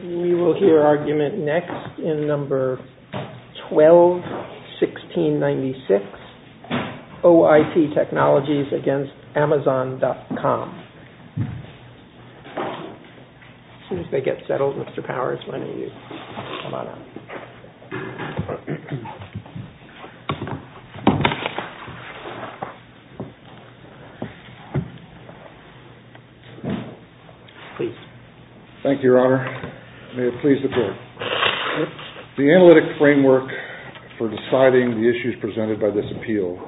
We will hear argument next in number 12-1696, Oip Technologies against Amazon.com. As soon as they get settled, Mr. Powers, why don't you come on up. Please. Thank you, Your Honor. May it please the Court. The analytic framework for deciding the issues presented by this appeal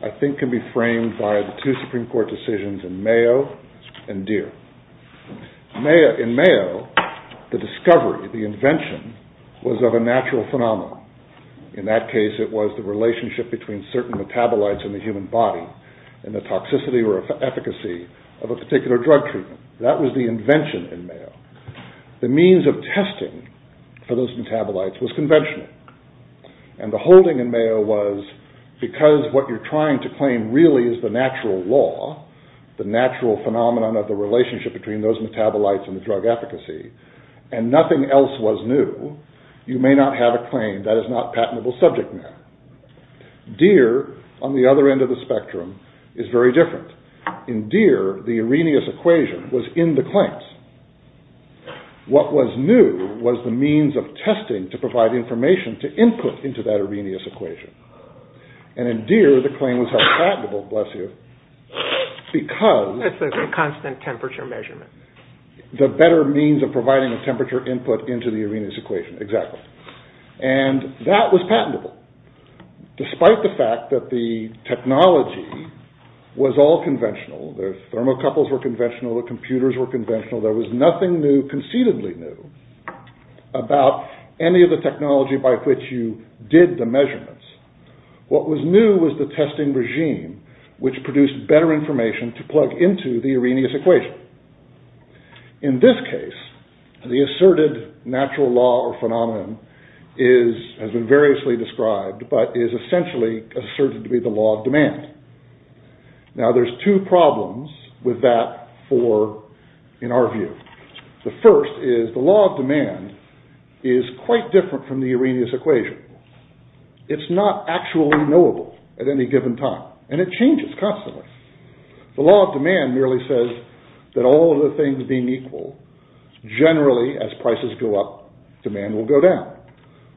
I think can be framed by the two Supreme Court decisions in Mayo and Deere. In Mayo, the discovery, the invention, was of a natural phenomenon. In that case, it was the relationship between certain metabolites in the human body and the toxicity or efficacy of a particular drug treatment. That was the invention in Mayo. The means of testing for those metabolites was conventional. And the holding in Mayo was, because what you're trying to claim really is the natural law, the natural phenomenon of the relationship between those metabolites and the drug efficacy, and nothing else was new, you may not have a claim that is not patentable subject matter. Deere, on the other end of the spectrum, is very different. In Deere, the Arrhenius equation was in the claims. What was new was the means of testing to provide information to input into that Arrhenius equation. And in Deere, the claim was held patentable, bless you, because... It's a constant temperature measurement. The better means of providing a temperature input into the Arrhenius equation, exactly. And that was patentable. Despite the fact that the technology was all conventional, the thermocouples were conventional, the computers were conventional, there was nothing new, concededly new, about any of the technology by which you did the measurements. What was new was the testing regime, which produced better information to plug into the Arrhenius equation. In this case, the asserted natural law or phenomenon has been variously described, but is essentially asserted to be the law of demand. Now, there's two problems with that for, in our view. The first is the law of demand is quite different from the Arrhenius equation. It's not actually knowable at any given time, and it changes constantly. The law of demand merely says that all of the things being equal, generally, as prices go up, demand will go down.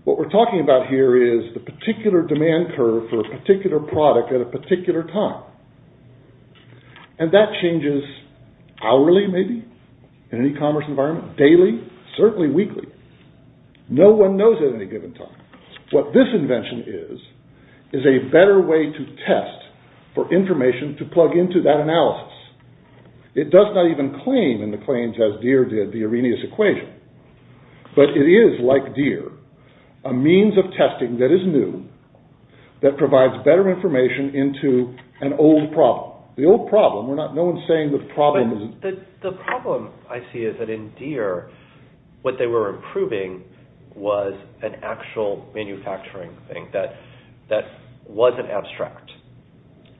What we're talking about here is the particular demand curve for a particular product at a particular time. And that changes hourly, maybe, in an e-commerce environment, daily, certainly weekly. No one knows at any given time. What this invention is, is a better way to test for information to plug into that analysis. It does not even claim, in the claims as Deere did, the Arrhenius equation. But it is, like Deere, a means of testing that is new, that provides better information into an old problem. The old problem, no one's saying the problem isn't… The problem I see is that in Deere, what they were improving was an actual manufacturing thing that wasn't abstract.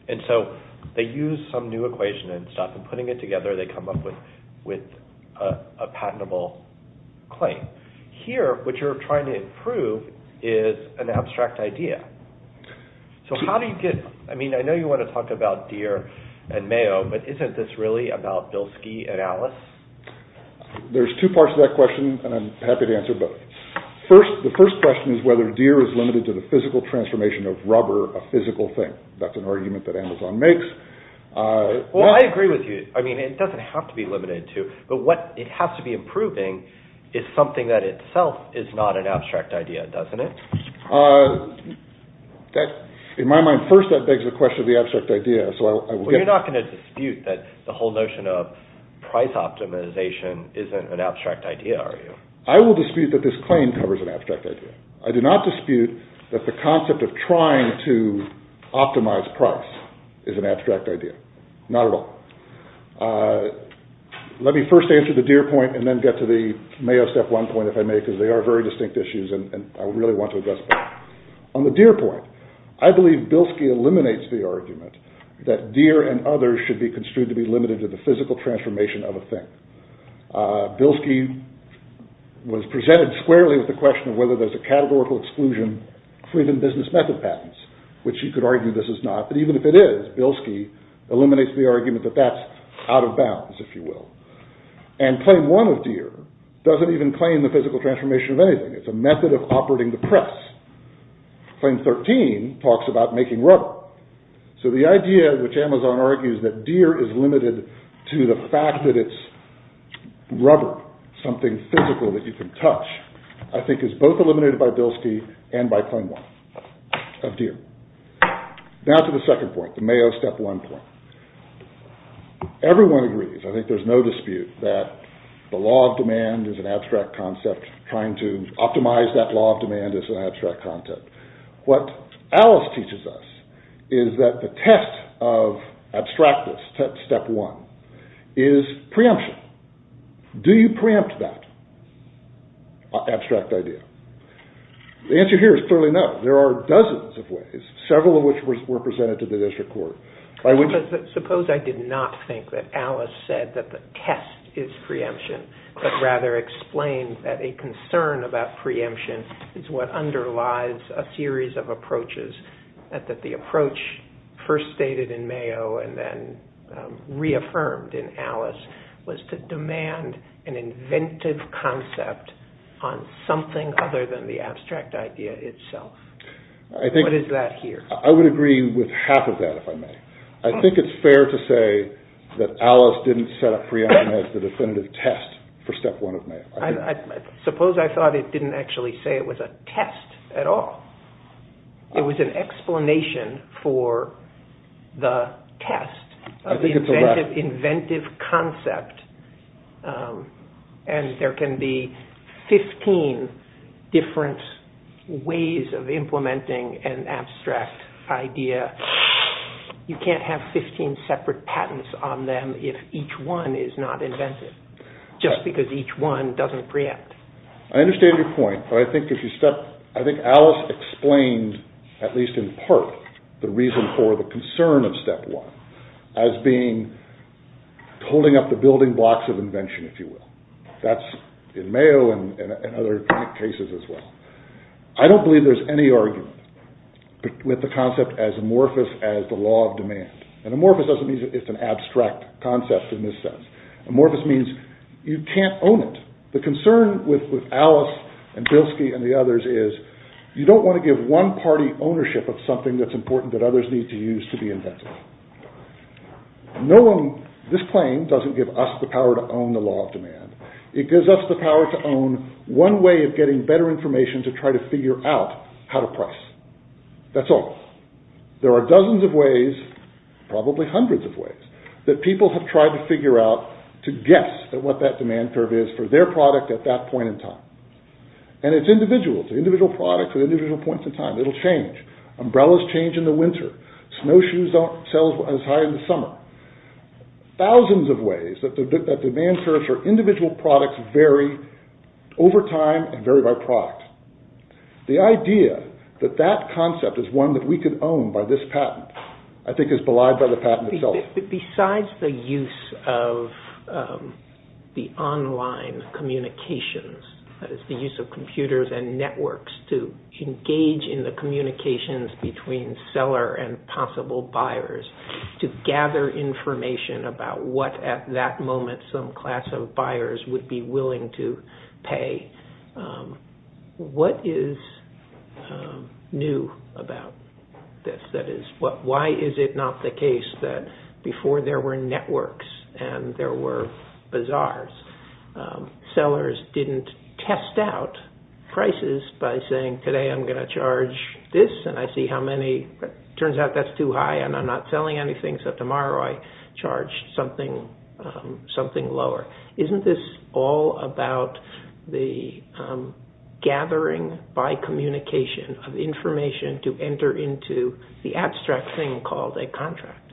And so they used some new equation and stuff, and putting it together, they come up with a patentable claim. Here, what you're trying to improve is an abstract idea. So how do you get… I mean, I know you want to talk about Deere and Mayo, but isn't this really about Bilski and Alice? There's two parts to that question, and I'm happy to answer both. The first question is whether Deere is limited to the physical transformation of rubber, a physical thing. That's an argument that Amazon makes. Well, I agree with you. I mean, it doesn't have to be limited to. But what it has to be improving is something that itself is not an abstract idea, doesn't it? In my mind, first, that begs the question of the abstract idea. Well, you're not going to dispute that the whole notion of price optimization isn't an abstract idea, are you? I will dispute that this claim covers an abstract idea. I do not dispute that the concept of trying to optimize price is an abstract idea. Not at all. Let me first answer the Deere point, and then get to the Mayo step one point, if I may, because they are very distinct issues, and I really want to address that. On the Deere point, I believe Bilski eliminates the argument that Deere and others should be construed to be limited to the physical transformation of a thing. Bilski was presented squarely with the question of whether there's a categorical exclusion for even business method patents, which you could argue this is not. But even if it is, Bilski eliminates the argument that that's out of bounds, if you will. And claim one of Deere doesn't even claim the physical transformation of anything. It's a method of operating the press. Claim 13 talks about making rubber. So the idea which Amazon argues that Deere is limited to the fact that it's rubber, something physical that you can touch, I think is both eliminated by Bilski and by claim one of Deere. Now to the second point, the Mayo step one point. Everyone agrees, I think there's no dispute, that the law of demand is an abstract concept, trying to optimize that law of demand is an abstract concept. What Alice teaches us is that the test of abstractness, step one, is preemption. Do you preempt that abstract idea? The answer here is clearly no. There are dozens of ways, several of which were presented to the district court. Suppose I did not think that Alice said that the test is preemption, but rather explained that a concern about preemption is what underlies a series of approaches, that the approach first stated in Mayo and then reaffirmed in Alice, was to demand an inventive concept on something other than the abstract idea itself. What is that here? I would agree with half of that, if I may. I think it's fair to say that Alice didn't set up preemption as the definitive test for step one of Mayo. Suppose I thought it didn't actually say it was a test at all. It was an explanation for the test of the inventive concept, and there can be 15 different ways of implementing an abstract idea. You can't have 15 separate patents on them if each one is not inventive, just because each one doesn't preempt. I understand your point, but I think Alice explained, at least in part, the reason for the concern of step one as being holding up the building blocks of invention, if you will. That's in Mayo and other cases as well. I don't believe there's any argument with the concept as amorphous as the law of demand. Amorphous doesn't mean it's an abstract concept in this sense. Amorphous means you can't own it. The concern with Alice and Bilski and the others is you don't want to give one party ownership of something that's important that others need to use to be inventive. This claim doesn't give us the power to own the law of demand. It gives us the power to own one way of getting better information to try to figure out how to price. That's all. There are dozens of ways, probably hundreds of ways, that people have tried to figure out to guess what that demand curve is for their product at that point in time. And it's individual. It's individual products at individual points in time. It'll change. Umbrellas change in the winter. Snowshoes don't sell as high in the summer. Thousands of ways that demand curves for individual products vary over time and vary by product. The idea that that concept is one that we could own by this patent, I think, is belied by the patent itself. Besides the use of the online communications, that is the use of computers and networks to engage in the communications between seller and possible buyers to gather information about what at that moment some class of buyers would be willing to pay, what is new about this? Why is it not the case that before there were networks and there were bazaars, sellers didn't test out prices by saying, today I'm going to charge this and I see how many. It turns out that's too high and I'm not selling anything, so tomorrow I charge something lower. Isn't this all about the gathering by communication of information to enter into the abstract thing called a contract?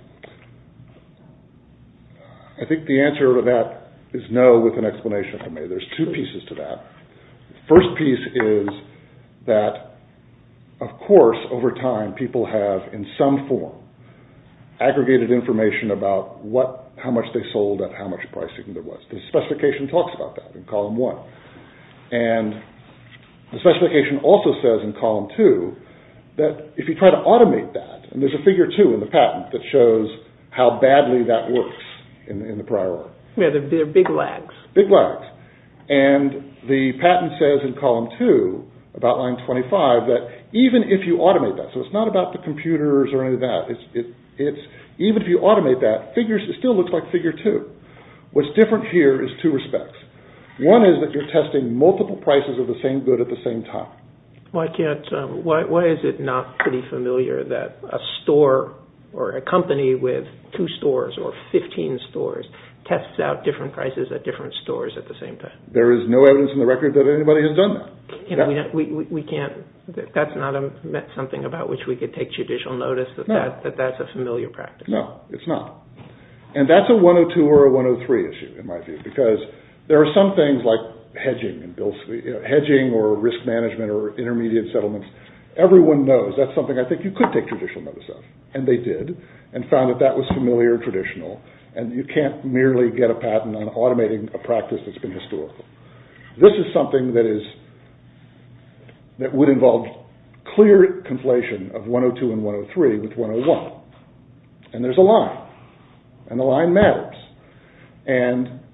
I think the answer to that is no with an explanation for me. There's two pieces to that. The first piece is that, of course, over time people have, in some form, aggregated information about how much they sold and how much pricing there was. The specification talks about that in column one. The specification also says in column two that if you try to automate that, and there's a figure two in the patent that shows how badly that works in the prior order. They're big lags. Big lags. The patent says in column two about line 25 that even if you automate that, so it's not about the computers or any of that. Even if you automate that, it still looks like figure two. What's different here is two respects. One is that you're testing multiple prices of the same good at the same time. Why is it not pretty familiar that a store or a company with two stores or 15 stores tests out different prices at different stores at the same time? There is no evidence in the record that anybody has done that. That's not something about which we could take judicial notice, that that's a familiar practice. No, it's not. That's a 102 or a 103 issue, in my view, because there are some things like hedging or risk management or intermediate settlements. Everyone knows that's something I think you could take judicial notice of, and they did, and found that that was familiar, traditional, and you can't merely get a patent on automating a practice that's been historical. This is something that would involve clear conflation of 102 and 103 with 101, and there's a line, and the line matters.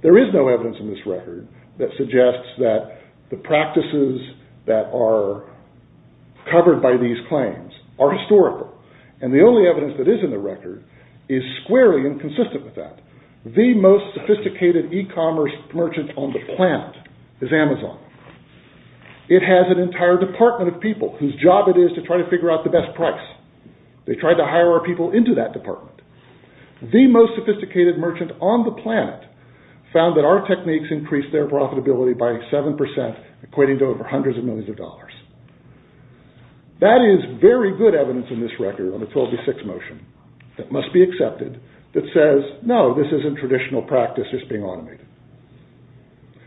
There is no evidence in this record that suggests that the practices that are covered by these claims are historical, and the only evidence that is in the record is squarely inconsistent with that. The most sophisticated e-commerce merchant on the planet is Amazon. It has an entire department of people whose job it is to try to figure out the best price. They try to hire our people into that department. The most sophisticated merchant on the planet found that our techniques increased their profitability by 7%, equating to over hundreds of millions of dollars. That is very good evidence in this record on the 12v6 motion that must be accepted that says, no, this isn't traditional practice, it's being automated.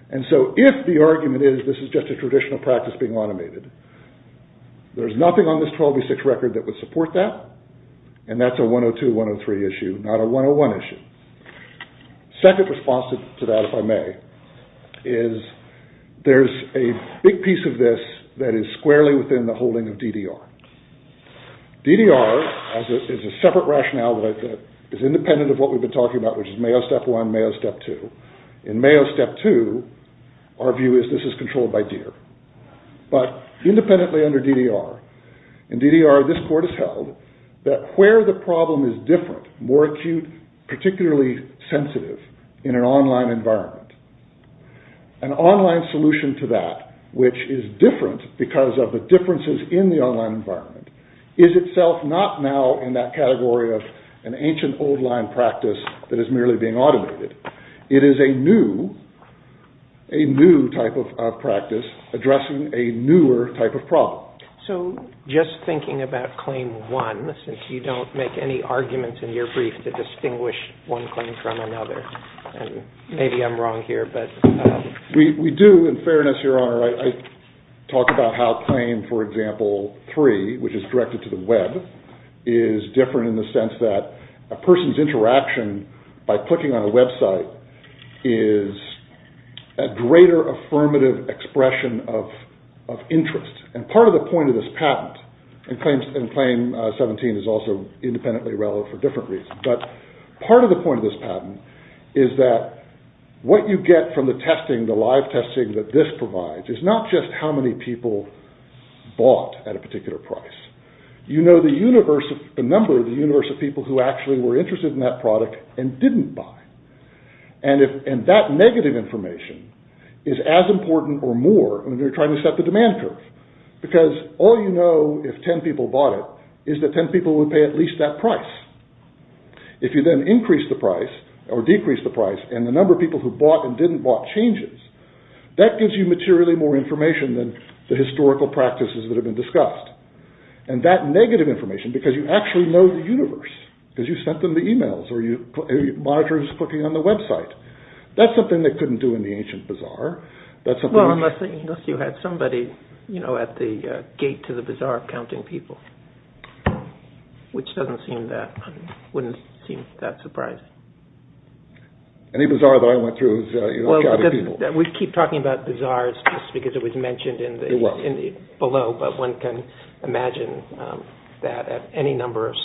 And so if the argument is this is just a traditional practice being automated, there's nothing on this 12v6 record that would support that, and that's a 102-103 issue, not a 101 issue. Second response to that, if I may, is there's a big piece of this that is squarely within the holding of DDR. DDR is a separate rationale that is independent of what we've been talking about, which is Mayo Step 1, Mayo Step 2. In Mayo Step 2, our view is this is controlled by deer. But independently under DDR, in DDR this court has held that where the problem is different, more acute, particularly sensitive in an online environment, an online solution to that which is different because of the differences in the online environment, is itself not now in that category of an ancient old line practice that is merely being automated. It is a new type of practice addressing a newer type of problem. So just thinking about Claim 1, since you don't make any arguments in your brief to distinguish one claim from another, and maybe I'm wrong here, but... We do, in fairness, Your Honor. I talk about how Claim, for example, 3, which is directed to the web, is different in the sense that a person's interaction by clicking on a website is a greater affirmative expression of interest. And part of the point of this patent, and Claim 17 is also independently relevant for different reasons, but part of the point of this patent is that what you get from the testing, the live testing that this provides, is not just how many people bought at a particular price. You know the number of the universe of people who actually were interested in that product and didn't buy. And that negative information is as important or more when you're trying to set the demand curve. Because all you know if 10 people bought it is that 10 people would pay at least that price. If you then increase the price, or decrease the price, and the number of people who bought and didn't bought changes, that gives you materially more information than the historical practices that have been discussed. And that negative information, because you actually know the universe, because you sent them the emails, or you monitor who's clicking on the website. That's something they couldn't do in the ancient bazaar. Well, unless you had somebody, you know, at the gate to the bazaar counting people, which doesn't seem that, wouldn't seem that surprising. Any bazaar that I went through is, you know, a crowd of people. Well, we keep talking about bazaars just because it was mentioned below, but one can imagine that at any number of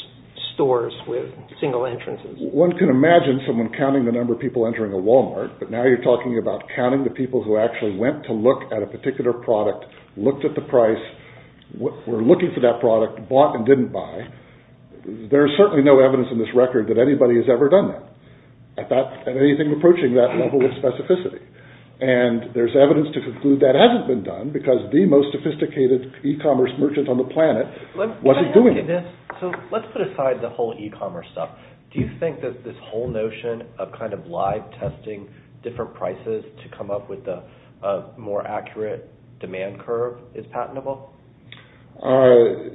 stores with single entrances. One can imagine someone counting the number of people entering a Walmart, but now you're talking about counting the people who actually went to look at a particular product, looked at the price, were looking for that product, bought and didn't buy. There's certainly no evidence in this record that anybody has ever done that at anything approaching that level of specificity. And there's evidence to conclude that hasn't been done because the most sophisticated e-commerce merchant on the planet wasn't doing it. So let's put aside the whole e-commerce stuff. Do you think that this whole notion of kind of live testing different prices to come up with a more accurate demand curve is patentable? Patentable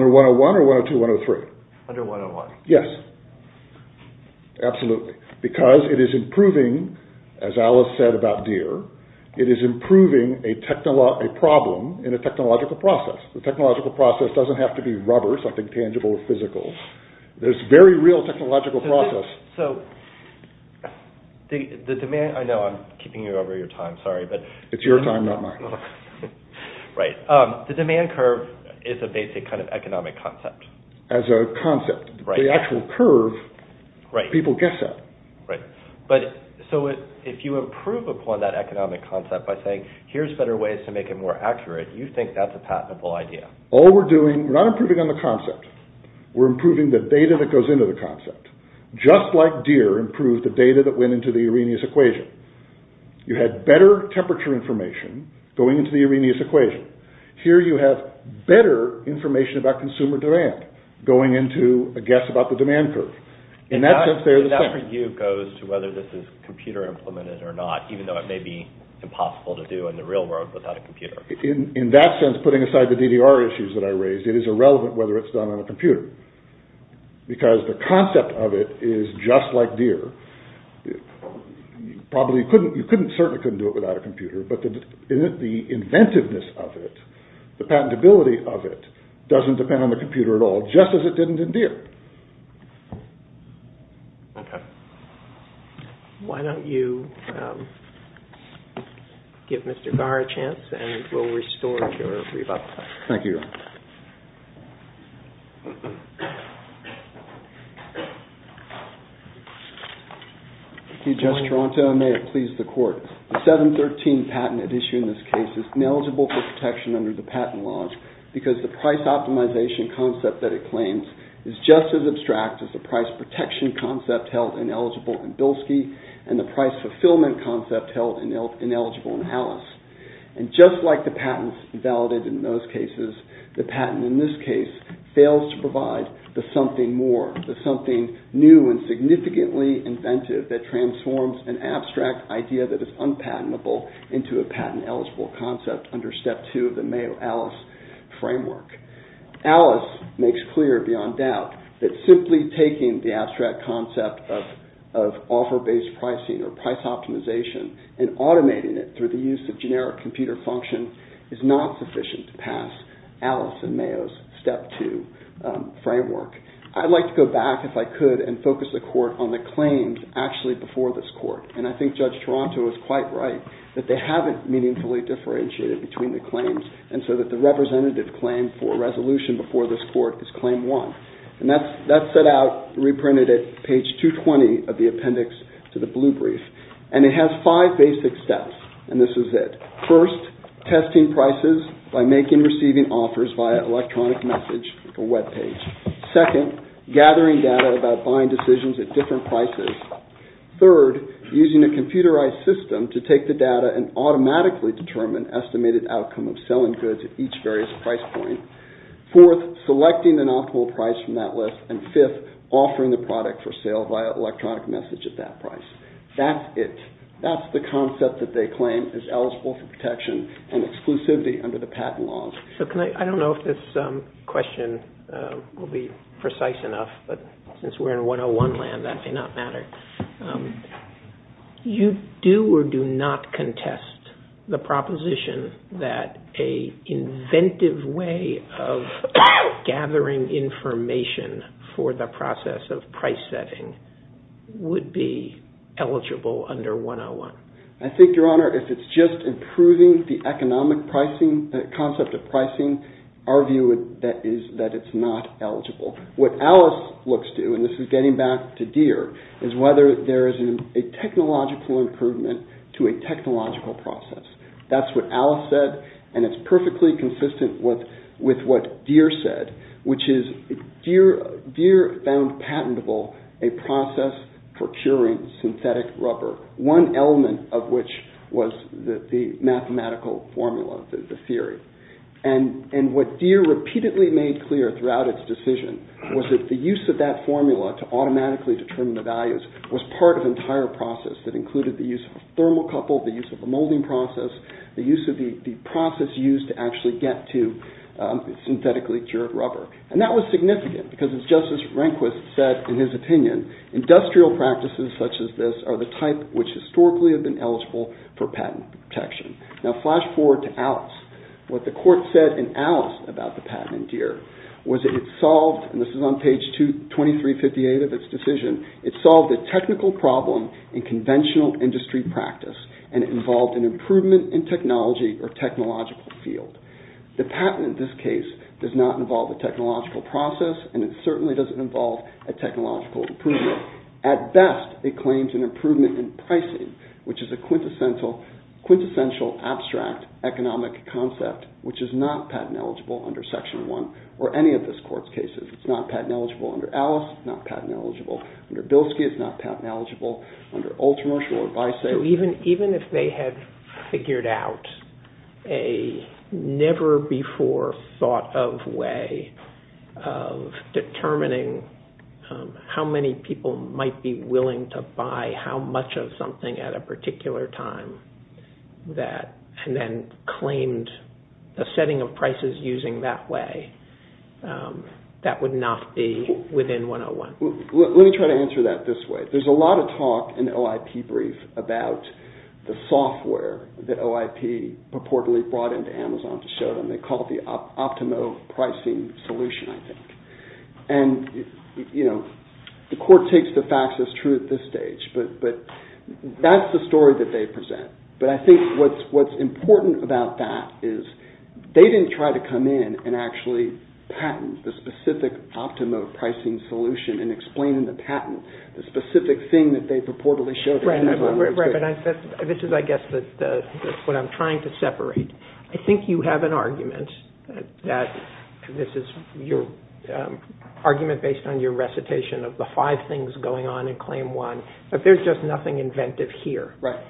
under 101 or 102, 103? Under 101. Yes. Absolutely. Because it is improving, as Alice said about Deere, it is improving a problem in a technological process. The technological process doesn't have to be rubber, something tangible or physical. There's very real technological process. I know I'm keeping you over your time, sorry. It's your time, not mine. Right. The demand curve is a basic kind of economic concept. As a concept. The actual curve, people guess at. Right. So if you improve upon that economic concept by saying, here's better ways to make it more accurate, you think that's a patentable idea. All we're doing, we're not improving on the concept. We're improving the data that goes into the concept. Just like Deere improved the data that went into the Arrhenius equation. You had better temperature information going into the Arrhenius equation. Here you have better information about consumer demand going into a guess about the demand curve. In that sense, they're the same. And that for you goes to whether this is computer implemented or not, even though it may be impossible to do in the real world without a computer. In that sense, putting aside the DDR issues that I raised, it is irrelevant whether it's done on a computer. Because the concept of it is just like Deere. You certainly couldn't do it without a computer, but the inventiveness of it, the patentability of it, doesn't depend on the computer at all, just as it didn't in Deere. Why don't you give Mr. Garr a chance and we'll restore your rebuttal. Thank you. Thank you, Judge Toronto, and may it please the court. The 713 patent at issue in this case is ineligible for protection under the patent laws because the price optimization concept that it claims is just as abstract as the price protection concept held ineligible in Bilski and the price fulfillment concept held ineligible in Alice. And just like the patents invalidated in those cases, the patent in this case fails to provide the something more, the something new and significantly inventive that transforms an abstract idea that is unpatentable into a patent-eligible concept under Step 2 of the Mayo Alice framework. Alice makes clear beyond doubt that simply taking the abstract concept of offer-based pricing or price optimization and automating it through the use of generic computer function is not sufficient to pass Alice and Mayo's Step 2 framework. I'd like to go back, if I could, and focus the court on the claims actually before this court. And I think Judge Toronto is quite right that they haven't meaningfully differentiated between the claims and so that the representative claim for resolution before this court is Claim 1. And that's set out, reprinted at page 220 of the appendix to the blue brief. And it has five basic steps, and this is it. First, testing prices by making or receiving offers via electronic message or web page. Second, gathering data about buying decisions at different prices. Third, using a computerized system to take the data and automatically determine estimated outcome of selling goods at each various price point. Fourth, selecting an optimal price from that list. And fifth, offering the product for sale via electronic message at that price. That's it. That's the concept that they claim is eligible for protection and exclusivity under the patent laws. So I don't know if this question will be precise enough, but since we're in 101 land, that may not matter. You do or do not contest the proposition that an inventive way of gathering information for the process of price setting would be eligible under 101? I think, Your Honor, if it's just improving the economic pricing, the concept of pricing, our view is that it's not eligible. What Alice looks to, and this is getting back to Deere, is whether there is a technological improvement to a technological process. That's what Alice said, and it's perfectly consistent with what Deere said, which is Deere found patentable a process for curing synthetic rubber, one element of which was the mathematical formula, the theory. And what Deere repeatedly made clear throughout its decision was that the use of that formula to automatically determine the values was part of an entire process that included the use of a thermocouple, the use of a molding process, the use of the process used to actually get to synthetically cured rubber. And that was significant because, just as Rehnquist said in his opinion, industrial practices such as this are the type which historically have been eligible for patent protection. Now flash forward to Alice. What the court said in Alice about the patent in Deere was that it solved, and this is on page 2358 of its decision, it solved a technical problem in conventional industry practice and it involved an improvement in technology or technological field. The patent in this case does not involve a technological process and it certainly doesn't involve a technological improvement. At best, it claims an improvement in pricing, which is a quintessential abstract economic concept which is not patent eligible under Section 1 or any of this court's cases. It's not patent eligible under Alice, it's not patent eligible under Bilski, it's not patent eligible under Ultramarch or Bice. So even if they had figured out a never-before-thought-of way of determining how many people might be willing to buy how much of something at a particular time and then claimed a setting of prices using that way, that would not be within 101. Let me try to answer that this way. There's a lot of talk in the OIP brief about the software that OIP purportedly brought into Amazon to show them. They call it the Optimo Pricing Solution, I think. And the court takes the facts as true at this stage, but that's the story that they present. But I think what's important about that is they didn't try to come in and actually patent the specific Optimo Pricing Solution and explain in the patent the specific thing that they purportedly showed them. Right, but this is, I guess, what I'm trying to separate. I think you have an argument that this is your argument based on your recitation of the five things going on in Claim 1, that there's just nothing inventive here. Right.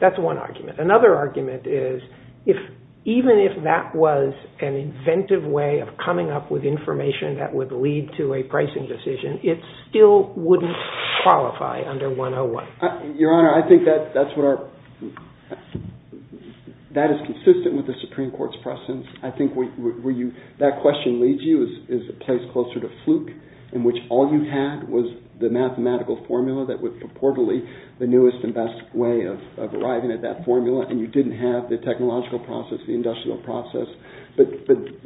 That's one argument. Another argument is even if that was an inventive way of coming up with information that would lead to a pricing decision, it still wouldn't qualify under 101. Your Honor, I think that is consistent with the Supreme Court's presence. That question leads you is a place closer to fluke in which all you had was the mathematical formula that was purportedly the newest and best way of arriving at that formula, and you didn't have the technological process, the industrial process. But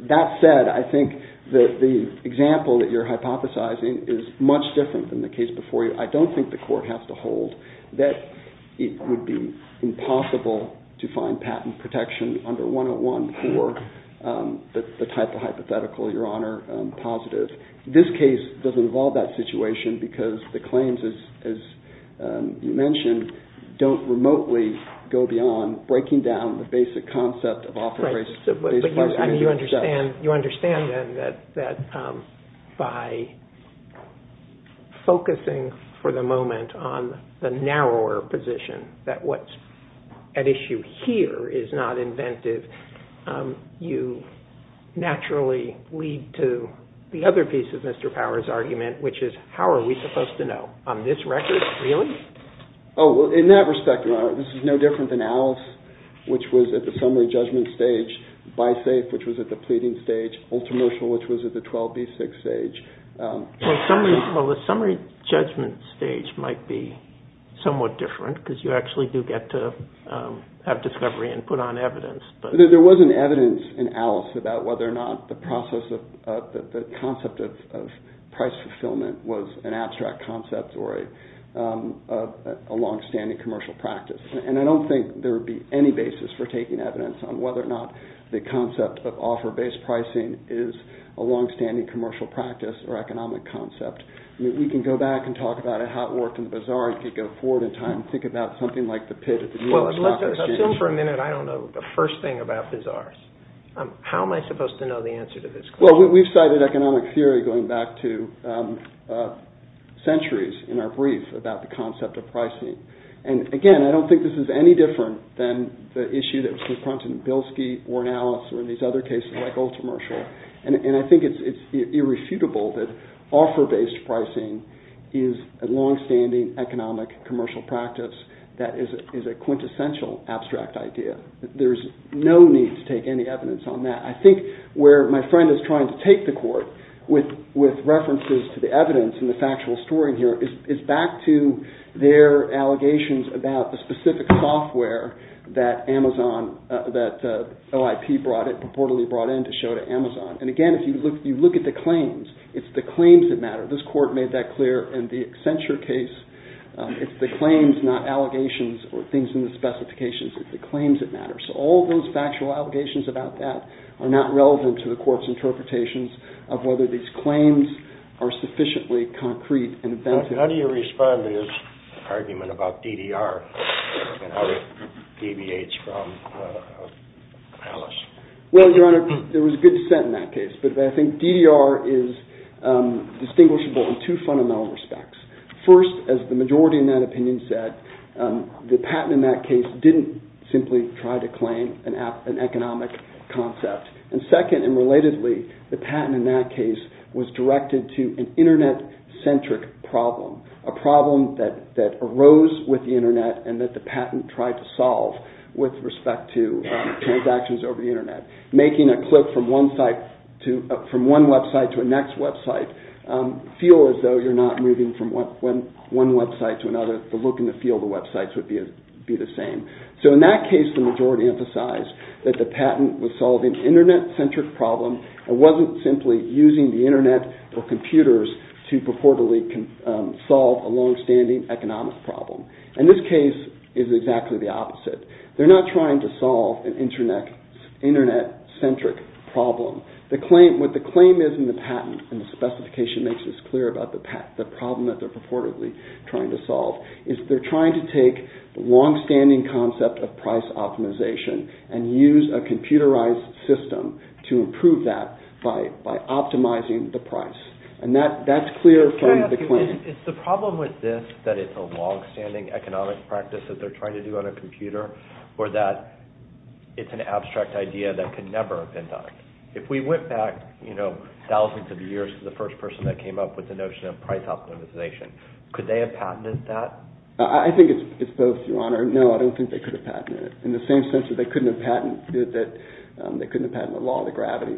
that said, I think that the example that you're hypothesizing is much different than the case before you. I don't think the court has to hold that it would be impossible to find patent protection under 101 for the type of hypothetical, Your Honor, positive. This case doesn't involve that situation because the claims, as you mentioned, don't remotely go beyond breaking down the basic concept of offer price. You understand, then, that by focusing for the moment on the narrower position, that what's at issue here is not inventive, you naturally lead to the other piece of Mr. Power's argument, which is, how are we supposed to know? On this record, really? Oh, well, in that respect, Your Honor, this is no different than Alice, which was at the summary judgment stage, Bisafe, which was at the pleading stage, Ultramercial, which was at the 12B6 stage. Well, the summary judgment stage might be somewhat different because you actually do get to have discovery and put on evidence. There was an evidence in Alice about whether or not the concept of price fulfillment was an abstract concept or a longstanding commercial practice. And I don't think there would be any basis for taking evidence on whether or not the concept of offer-based pricing is a longstanding commercial practice or economic concept. We can go back and talk about it, how it worked in the bazaar, and we can go forward in time and think about something like the pit at the US Stock Exchange. Well, let's assume for a minute I don't know the first thing about bazaars. How am I supposed to know the answer to this question? Well, we've cited economic theory going back to centuries in our brief about the concept of pricing. And again, I don't think this is any different than the issue that was confronted in Bilski, or in Alice, or in these other cases like Ultramercial. And I think it's irrefutable that offer-based pricing is a longstanding economic commercial practice that is a quintessential abstract idea. There's no need to take any evidence on that. I think where my friend is trying to take the court with references to the evidence and the factual story here is back to their allegations about the specific software that OIP purportedly brought in to show to Amazon. And again, if you look at the claims, it's the claims that matter. This court made that clear in the Accenture case. It's the claims, not allegations or things in the specifications. It's the claims that matter. So all those factual allegations about that are not relevant to the court's interpretations of whether these claims are sufficiently concrete and offensive. How do you respond to this argument about DDR and how it deviates from Alice? Well, Your Honor, there was a good dissent in that case. But I think DDR is distinguishable in two fundamental respects. First, as the majority in that opinion said, the patent in that case didn't simply try to claim an economic concept. And second, and relatedly, the patent in that case was directed to an Internet-centric problem, a problem that arose with the Internet and that the patent tried to solve with respect to transactions over the Internet. Making a click from one website to a next website feel as though you're not moving from one website to another. The look and the feel of the websites would be the same. So in that case, the majority emphasized that the patent was solving an Internet-centric problem. It wasn't simply using the Internet or computers to purportedly solve a long-standing economic problem. In this case, it's exactly the opposite. They're not trying to solve an Internet-centric problem. What the claim is in the patent, and the specification makes this clear about the problem that they're purportedly trying to solve, is they're trying to take the long-standing concept of price optimization and use a computerized system to improve that by optimizing the price. And that's clear from the claim. Can I ask you, is the problem with this that it's a long-standing economic practice that they're trying to do on a computer or that it's an abstract idea that could never have been done? If we went back, you know, thousands of years to the first person that came up with the notion of price optimization, could they have patented that? I think it's both, Your Honor. No, I don't think they could have patented it in the same sense that they couldn't have patented it that they couldn't have patented the law of gravity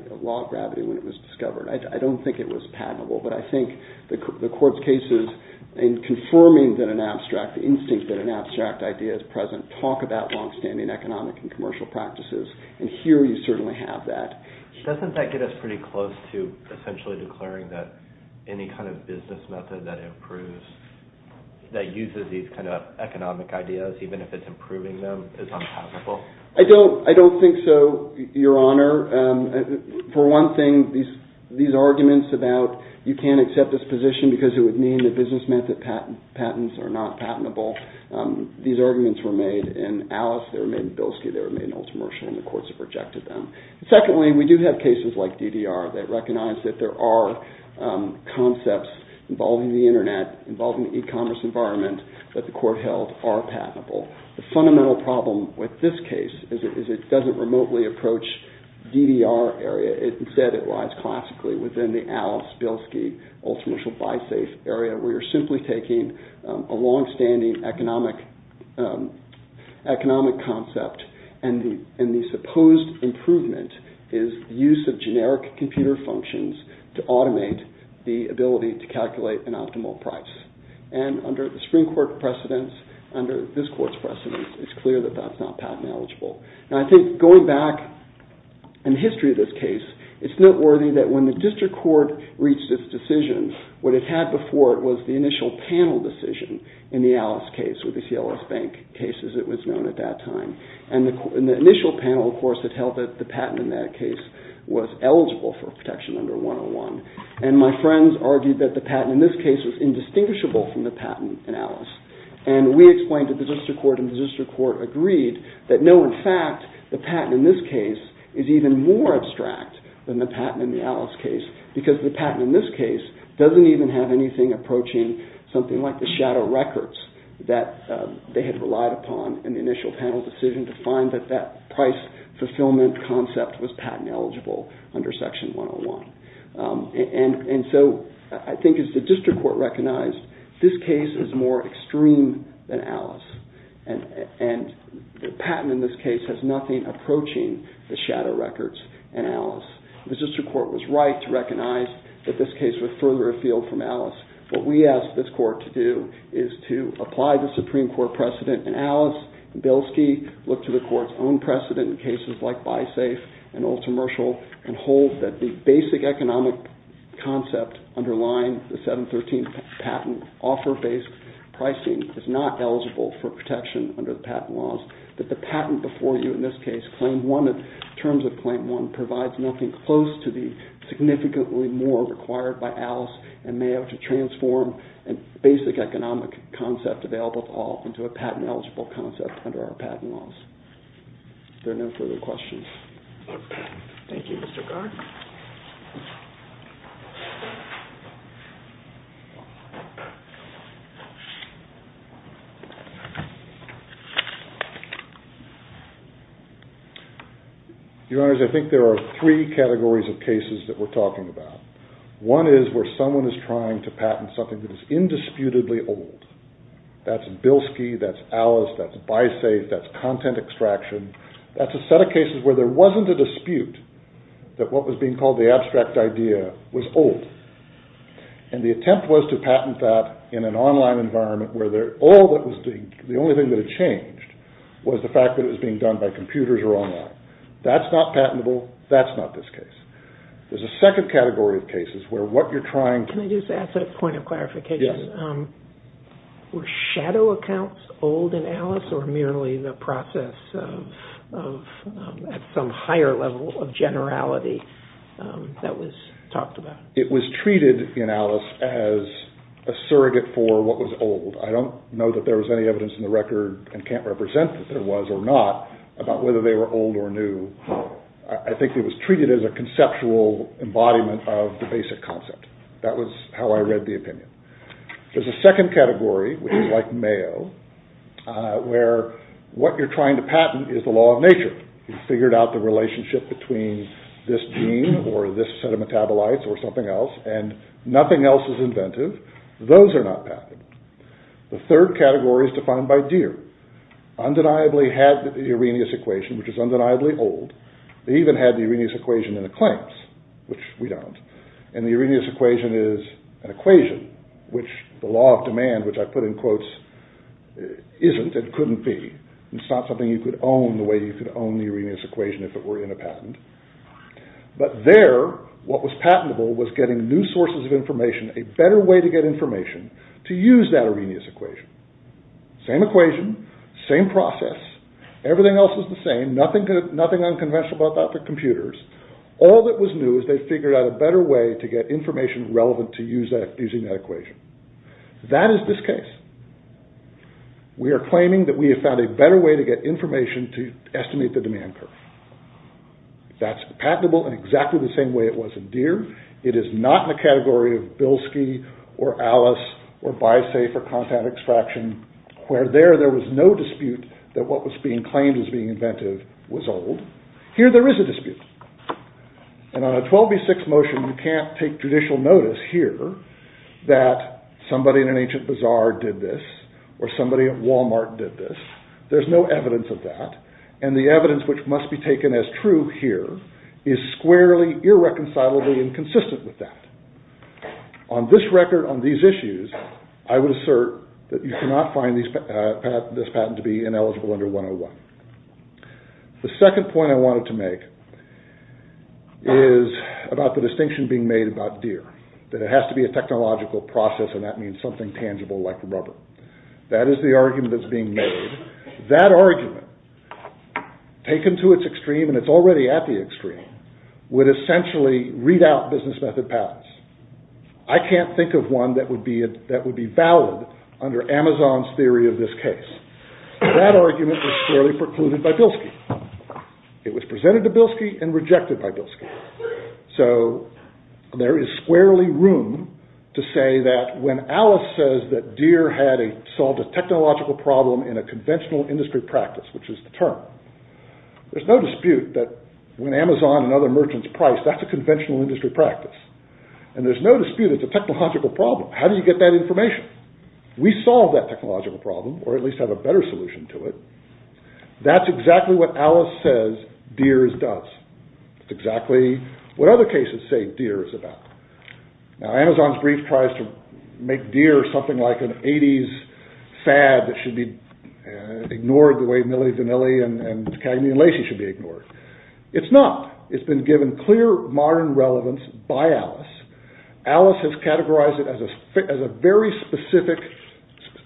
when it was discovered. I don't think it was patentable, but I think the court's cases in confirming that an abstract instinct, that an abstract idea is present, talk about long-standing economic and commercial practices, and here you certainly have that. Doesn't that get us pretty close to essentially declaring that any kind of business method that improves, that uses these kind of economic ideas, even if it's improving them, is unpatentable? I don't think so, Your Honor. For one thing, these arguments about you can't accept this position because it would mean that business method patents are not patentable, these arguments were made in Alice, they were made in Bilski, they were made in Ultramersh, and the courts have rejected them. Secondly, we do have cases like DDR that recognize that there are concepts involving the Internet, involving the e-commerce environment, that the court held are patentable. The fundamental problem with this case is it doesn't remotely approach DDR area, instead it lies classically within the Alice, Bilski, Ultramersh, or BuySafe area, where you're simply taking a long-standing economic concept, and the supposed improvement is the use of generic computer functions to automate the ability to calculate an optimal price. And under the Supreme Court precedence, under this court's precedence, it's clear that that's not patent eligible. And I think going back in the history of this case, it's noteworthy that when the district court reached its decision, what it had before it was the initial panel decision in the Alice case with the CLS Bank case, as it was known at that time. And in the initial panel, of course, it held that the patent in that case was eligible for protection under 101, and my friends argued that the patent in this case was indistinguishable from the patent in Alice. And we explained to the district court, and the district court agreed, that no, in fact, the patent in this case is even more abstract than the patent in the Alice case, because the patent in this case doesn't even have anything approaching something like the shadow records that they had relied upon in the initial panel decision to find that that price fulfillment concept was patent eligible under Section 101. And so I think as the district court recognized, this case is more extreme than Alice, and the patent in this case has nothing approaching the shadow records in Alice. The district court was right to recognize that this case was further afield from Alice. What we asked this court to do is to apply the Supreme Court precedent, and Alice and Bilski looked to the court's own precedent in cases like BiSafe and Ultramershal and hold that the basic economic concept underlying the 713 patent offer-based pricing is not eligible for protection under the patent laws, that the patent before you in this case, terms of Claim 1, provides nothing close to the significantly more required by Alice and Mayo to transform a basic economic concept available to all into a patent-eligible concept under our patent laws. Are there no further questions? Thank you, Mr. Gardner. Your Honors, I think there are three categories of cases that we're talking about. One is where someone is trying to patent something that is indisputably old. That's Bilski, that's Alice, that's BiSafe, that's content extraction. That's a set of cases where there wasn't a dispute that what was being called the abstract idea was old. And the attempt was to patent that in an online environment where all that was being, the only thing that had changed was the fact that it was being done by computers or online. That's not patentable, that's not this case. There's a second category of cases where what you're trying... Yes. Were shadow accounts old in Alice or merely the process of some higher level of generality that was talked about? It was treated in Alice as a surrogate for what was old. I don't know that there was any evidence in the record and can't represent that there was or not about whether they were old or new. I think it was treated as a conceptual embodiment of the basic concept. That was how I read the opinion. There's a second category, which is like Mayo, where what you're trying to patent is the law of nature. You've figured out the relationship between this gene or this set of metabolites or something else and nothing else is inventive. Those are not patentable. The third category is defined by Deere. Undeniably had the Arrhenius equation, which is undeniably old. They even had the Arrhenius equation in the claims, which we don't. And the Arrhenius equation is an equation which the law of demand, which I put in quotes, isn't and couldn't be. It's not something you could own the way you could own the Arrhenius equation if it were in a patent. But there, what was patentable was getting new sources of information, a better way to get information, to use that Arrhenius equation. Same equation, same process. Everything else is the same. Nothing unconventional about that for computers. All that was new is they figured out a better way to get information relevant to using that equation. That is this case. We are claiming that we have found a better way to get information to estimate the demand curve. That's patentable in exactly the same way it was in Deere. It is not in the category of Bilski or Alice or BiSafe or content extraction, where there, there was no dispute that what was being claimed as being inventive was old. Here, there is a dispute. And on a 12B6 motion, you can't take judicial notice here that somebody in an ancient bazaar did this or somebody at Walmart did this. There is no evidence of that. And the evidence which must be taken as true here is squarely, irreconcilably inconsistent with that. On this record, on these issues, I would assert that you cannot find this patent to be ineligible under 101. The second point I wanted to make is about the distinction being made about Deere, that it has to be a technological process and that means something tangible like rubber. That is the argument that's being made. That argument, taken to its extreme, and it's already at the extreme, would essentially read out business method patents. I can't think of one that would be valid under Amazon's theory of this case. That argument was squarely precluded by Bilski. It was presented to Bilski and rejected by Bilski. So there is squarely room to say that when Alice says that Deere solved a technological problem in a conventional industry practice, which is the term, there's no dispute that when Amazon and other merchants price, that's a conventional industry practice. And there's no dispute it's a technological problem. How do you get that information? We solve that technological problem or at least have a better solution to it. That's exactly what Alice says Deere does. It's exactly what other cases say Deere is about. Now Amazon's brief tries to make Deere something like an 80s fad that should be ignored the way Milli Vanilli and Cagney and Lacey should be ignored. It's not. It's been given clear modern relevance by Alice. Alice has categorized it as a very specific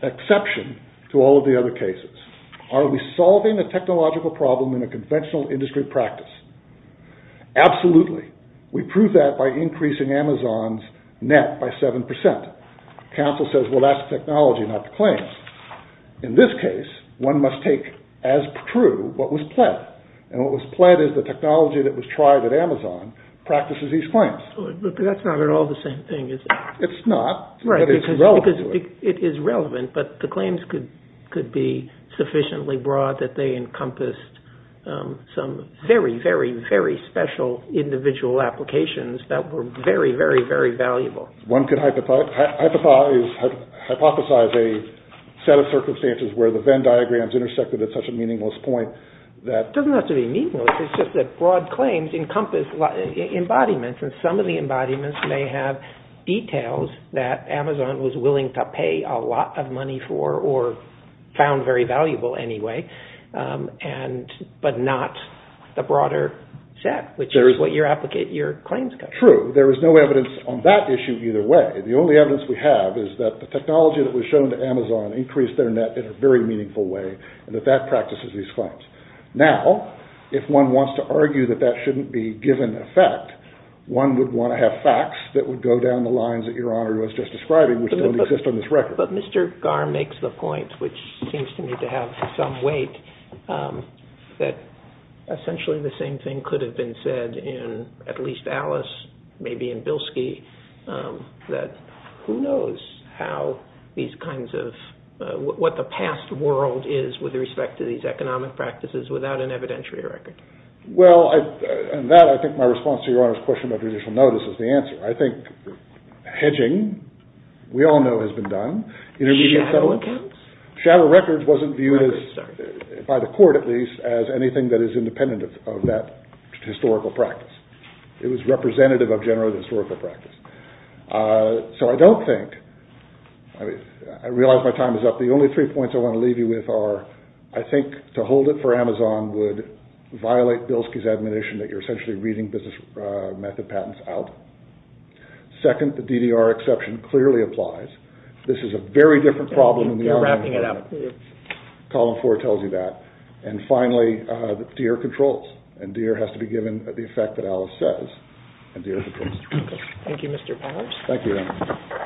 exception to all of the other cases. Are we solving a technological problem in a conventional industry practice? Absolutely. We prove that by increasing Amazon's net by 7%. Counsel says well that's technology not the claims. In this case one must take as true what was pled. And what was pled is the technology that was tried at Amazon practices these claims. That's not at all the same thing is it? It's not but it's relevant to it. It is relevant but the claims could be sufficiently broad that they encompassed some very, very, very special individual applications that were very, very, very valuable. One could hypothesize a set of circumstances where the Venn diagrams intersected at such a meaningless point. It doesn't have to be meaningless. It's just that broad claims encompass embodiments and some of the embodiments may have details that Amazon was willing to pay a lot of money for or found very valuable anyway but not the broader set which is what your claims cover. True. There is no evidence on that issue either way. The only evidence we have is that the technology that was shown to Amazon increased their net in a very meaningful way and that that practices these claims. Now if one wants to argue that that shouldn't be given effect one would want to have facts that would go down the lines that your Honor was just describing which don't exist on this record. But Mr. Garr makes the point which seems to me to have some weight that essentially the same thing could have been said in at least Alice, maybe in Bilski that who knows how these kinds of, what the past world is with respect to these economic practices without an evidentiary record. Well, and that I think my response to your Honor's question about judicial notice is the answer. I think hedging we all know has been done. Shadow records? Shadow records wasn't viewed by the court at least as anything that is independent of that historical practice. It was representative of general historical practice. So I don't think, I realize my time is up. The only three points I want to leave you with are I think to hold it for Amazon would violate Bilski's admonition that you're essentially reading business method patents out. Second, the DDR exception clearly applies. This is a very different problem than the other. You're wrapping it up. Column four tells you that. And finally, Deere controls and Deere has to be given the effect that Alice says and Deere controls. Thank you, Mr. Powers. Thank you.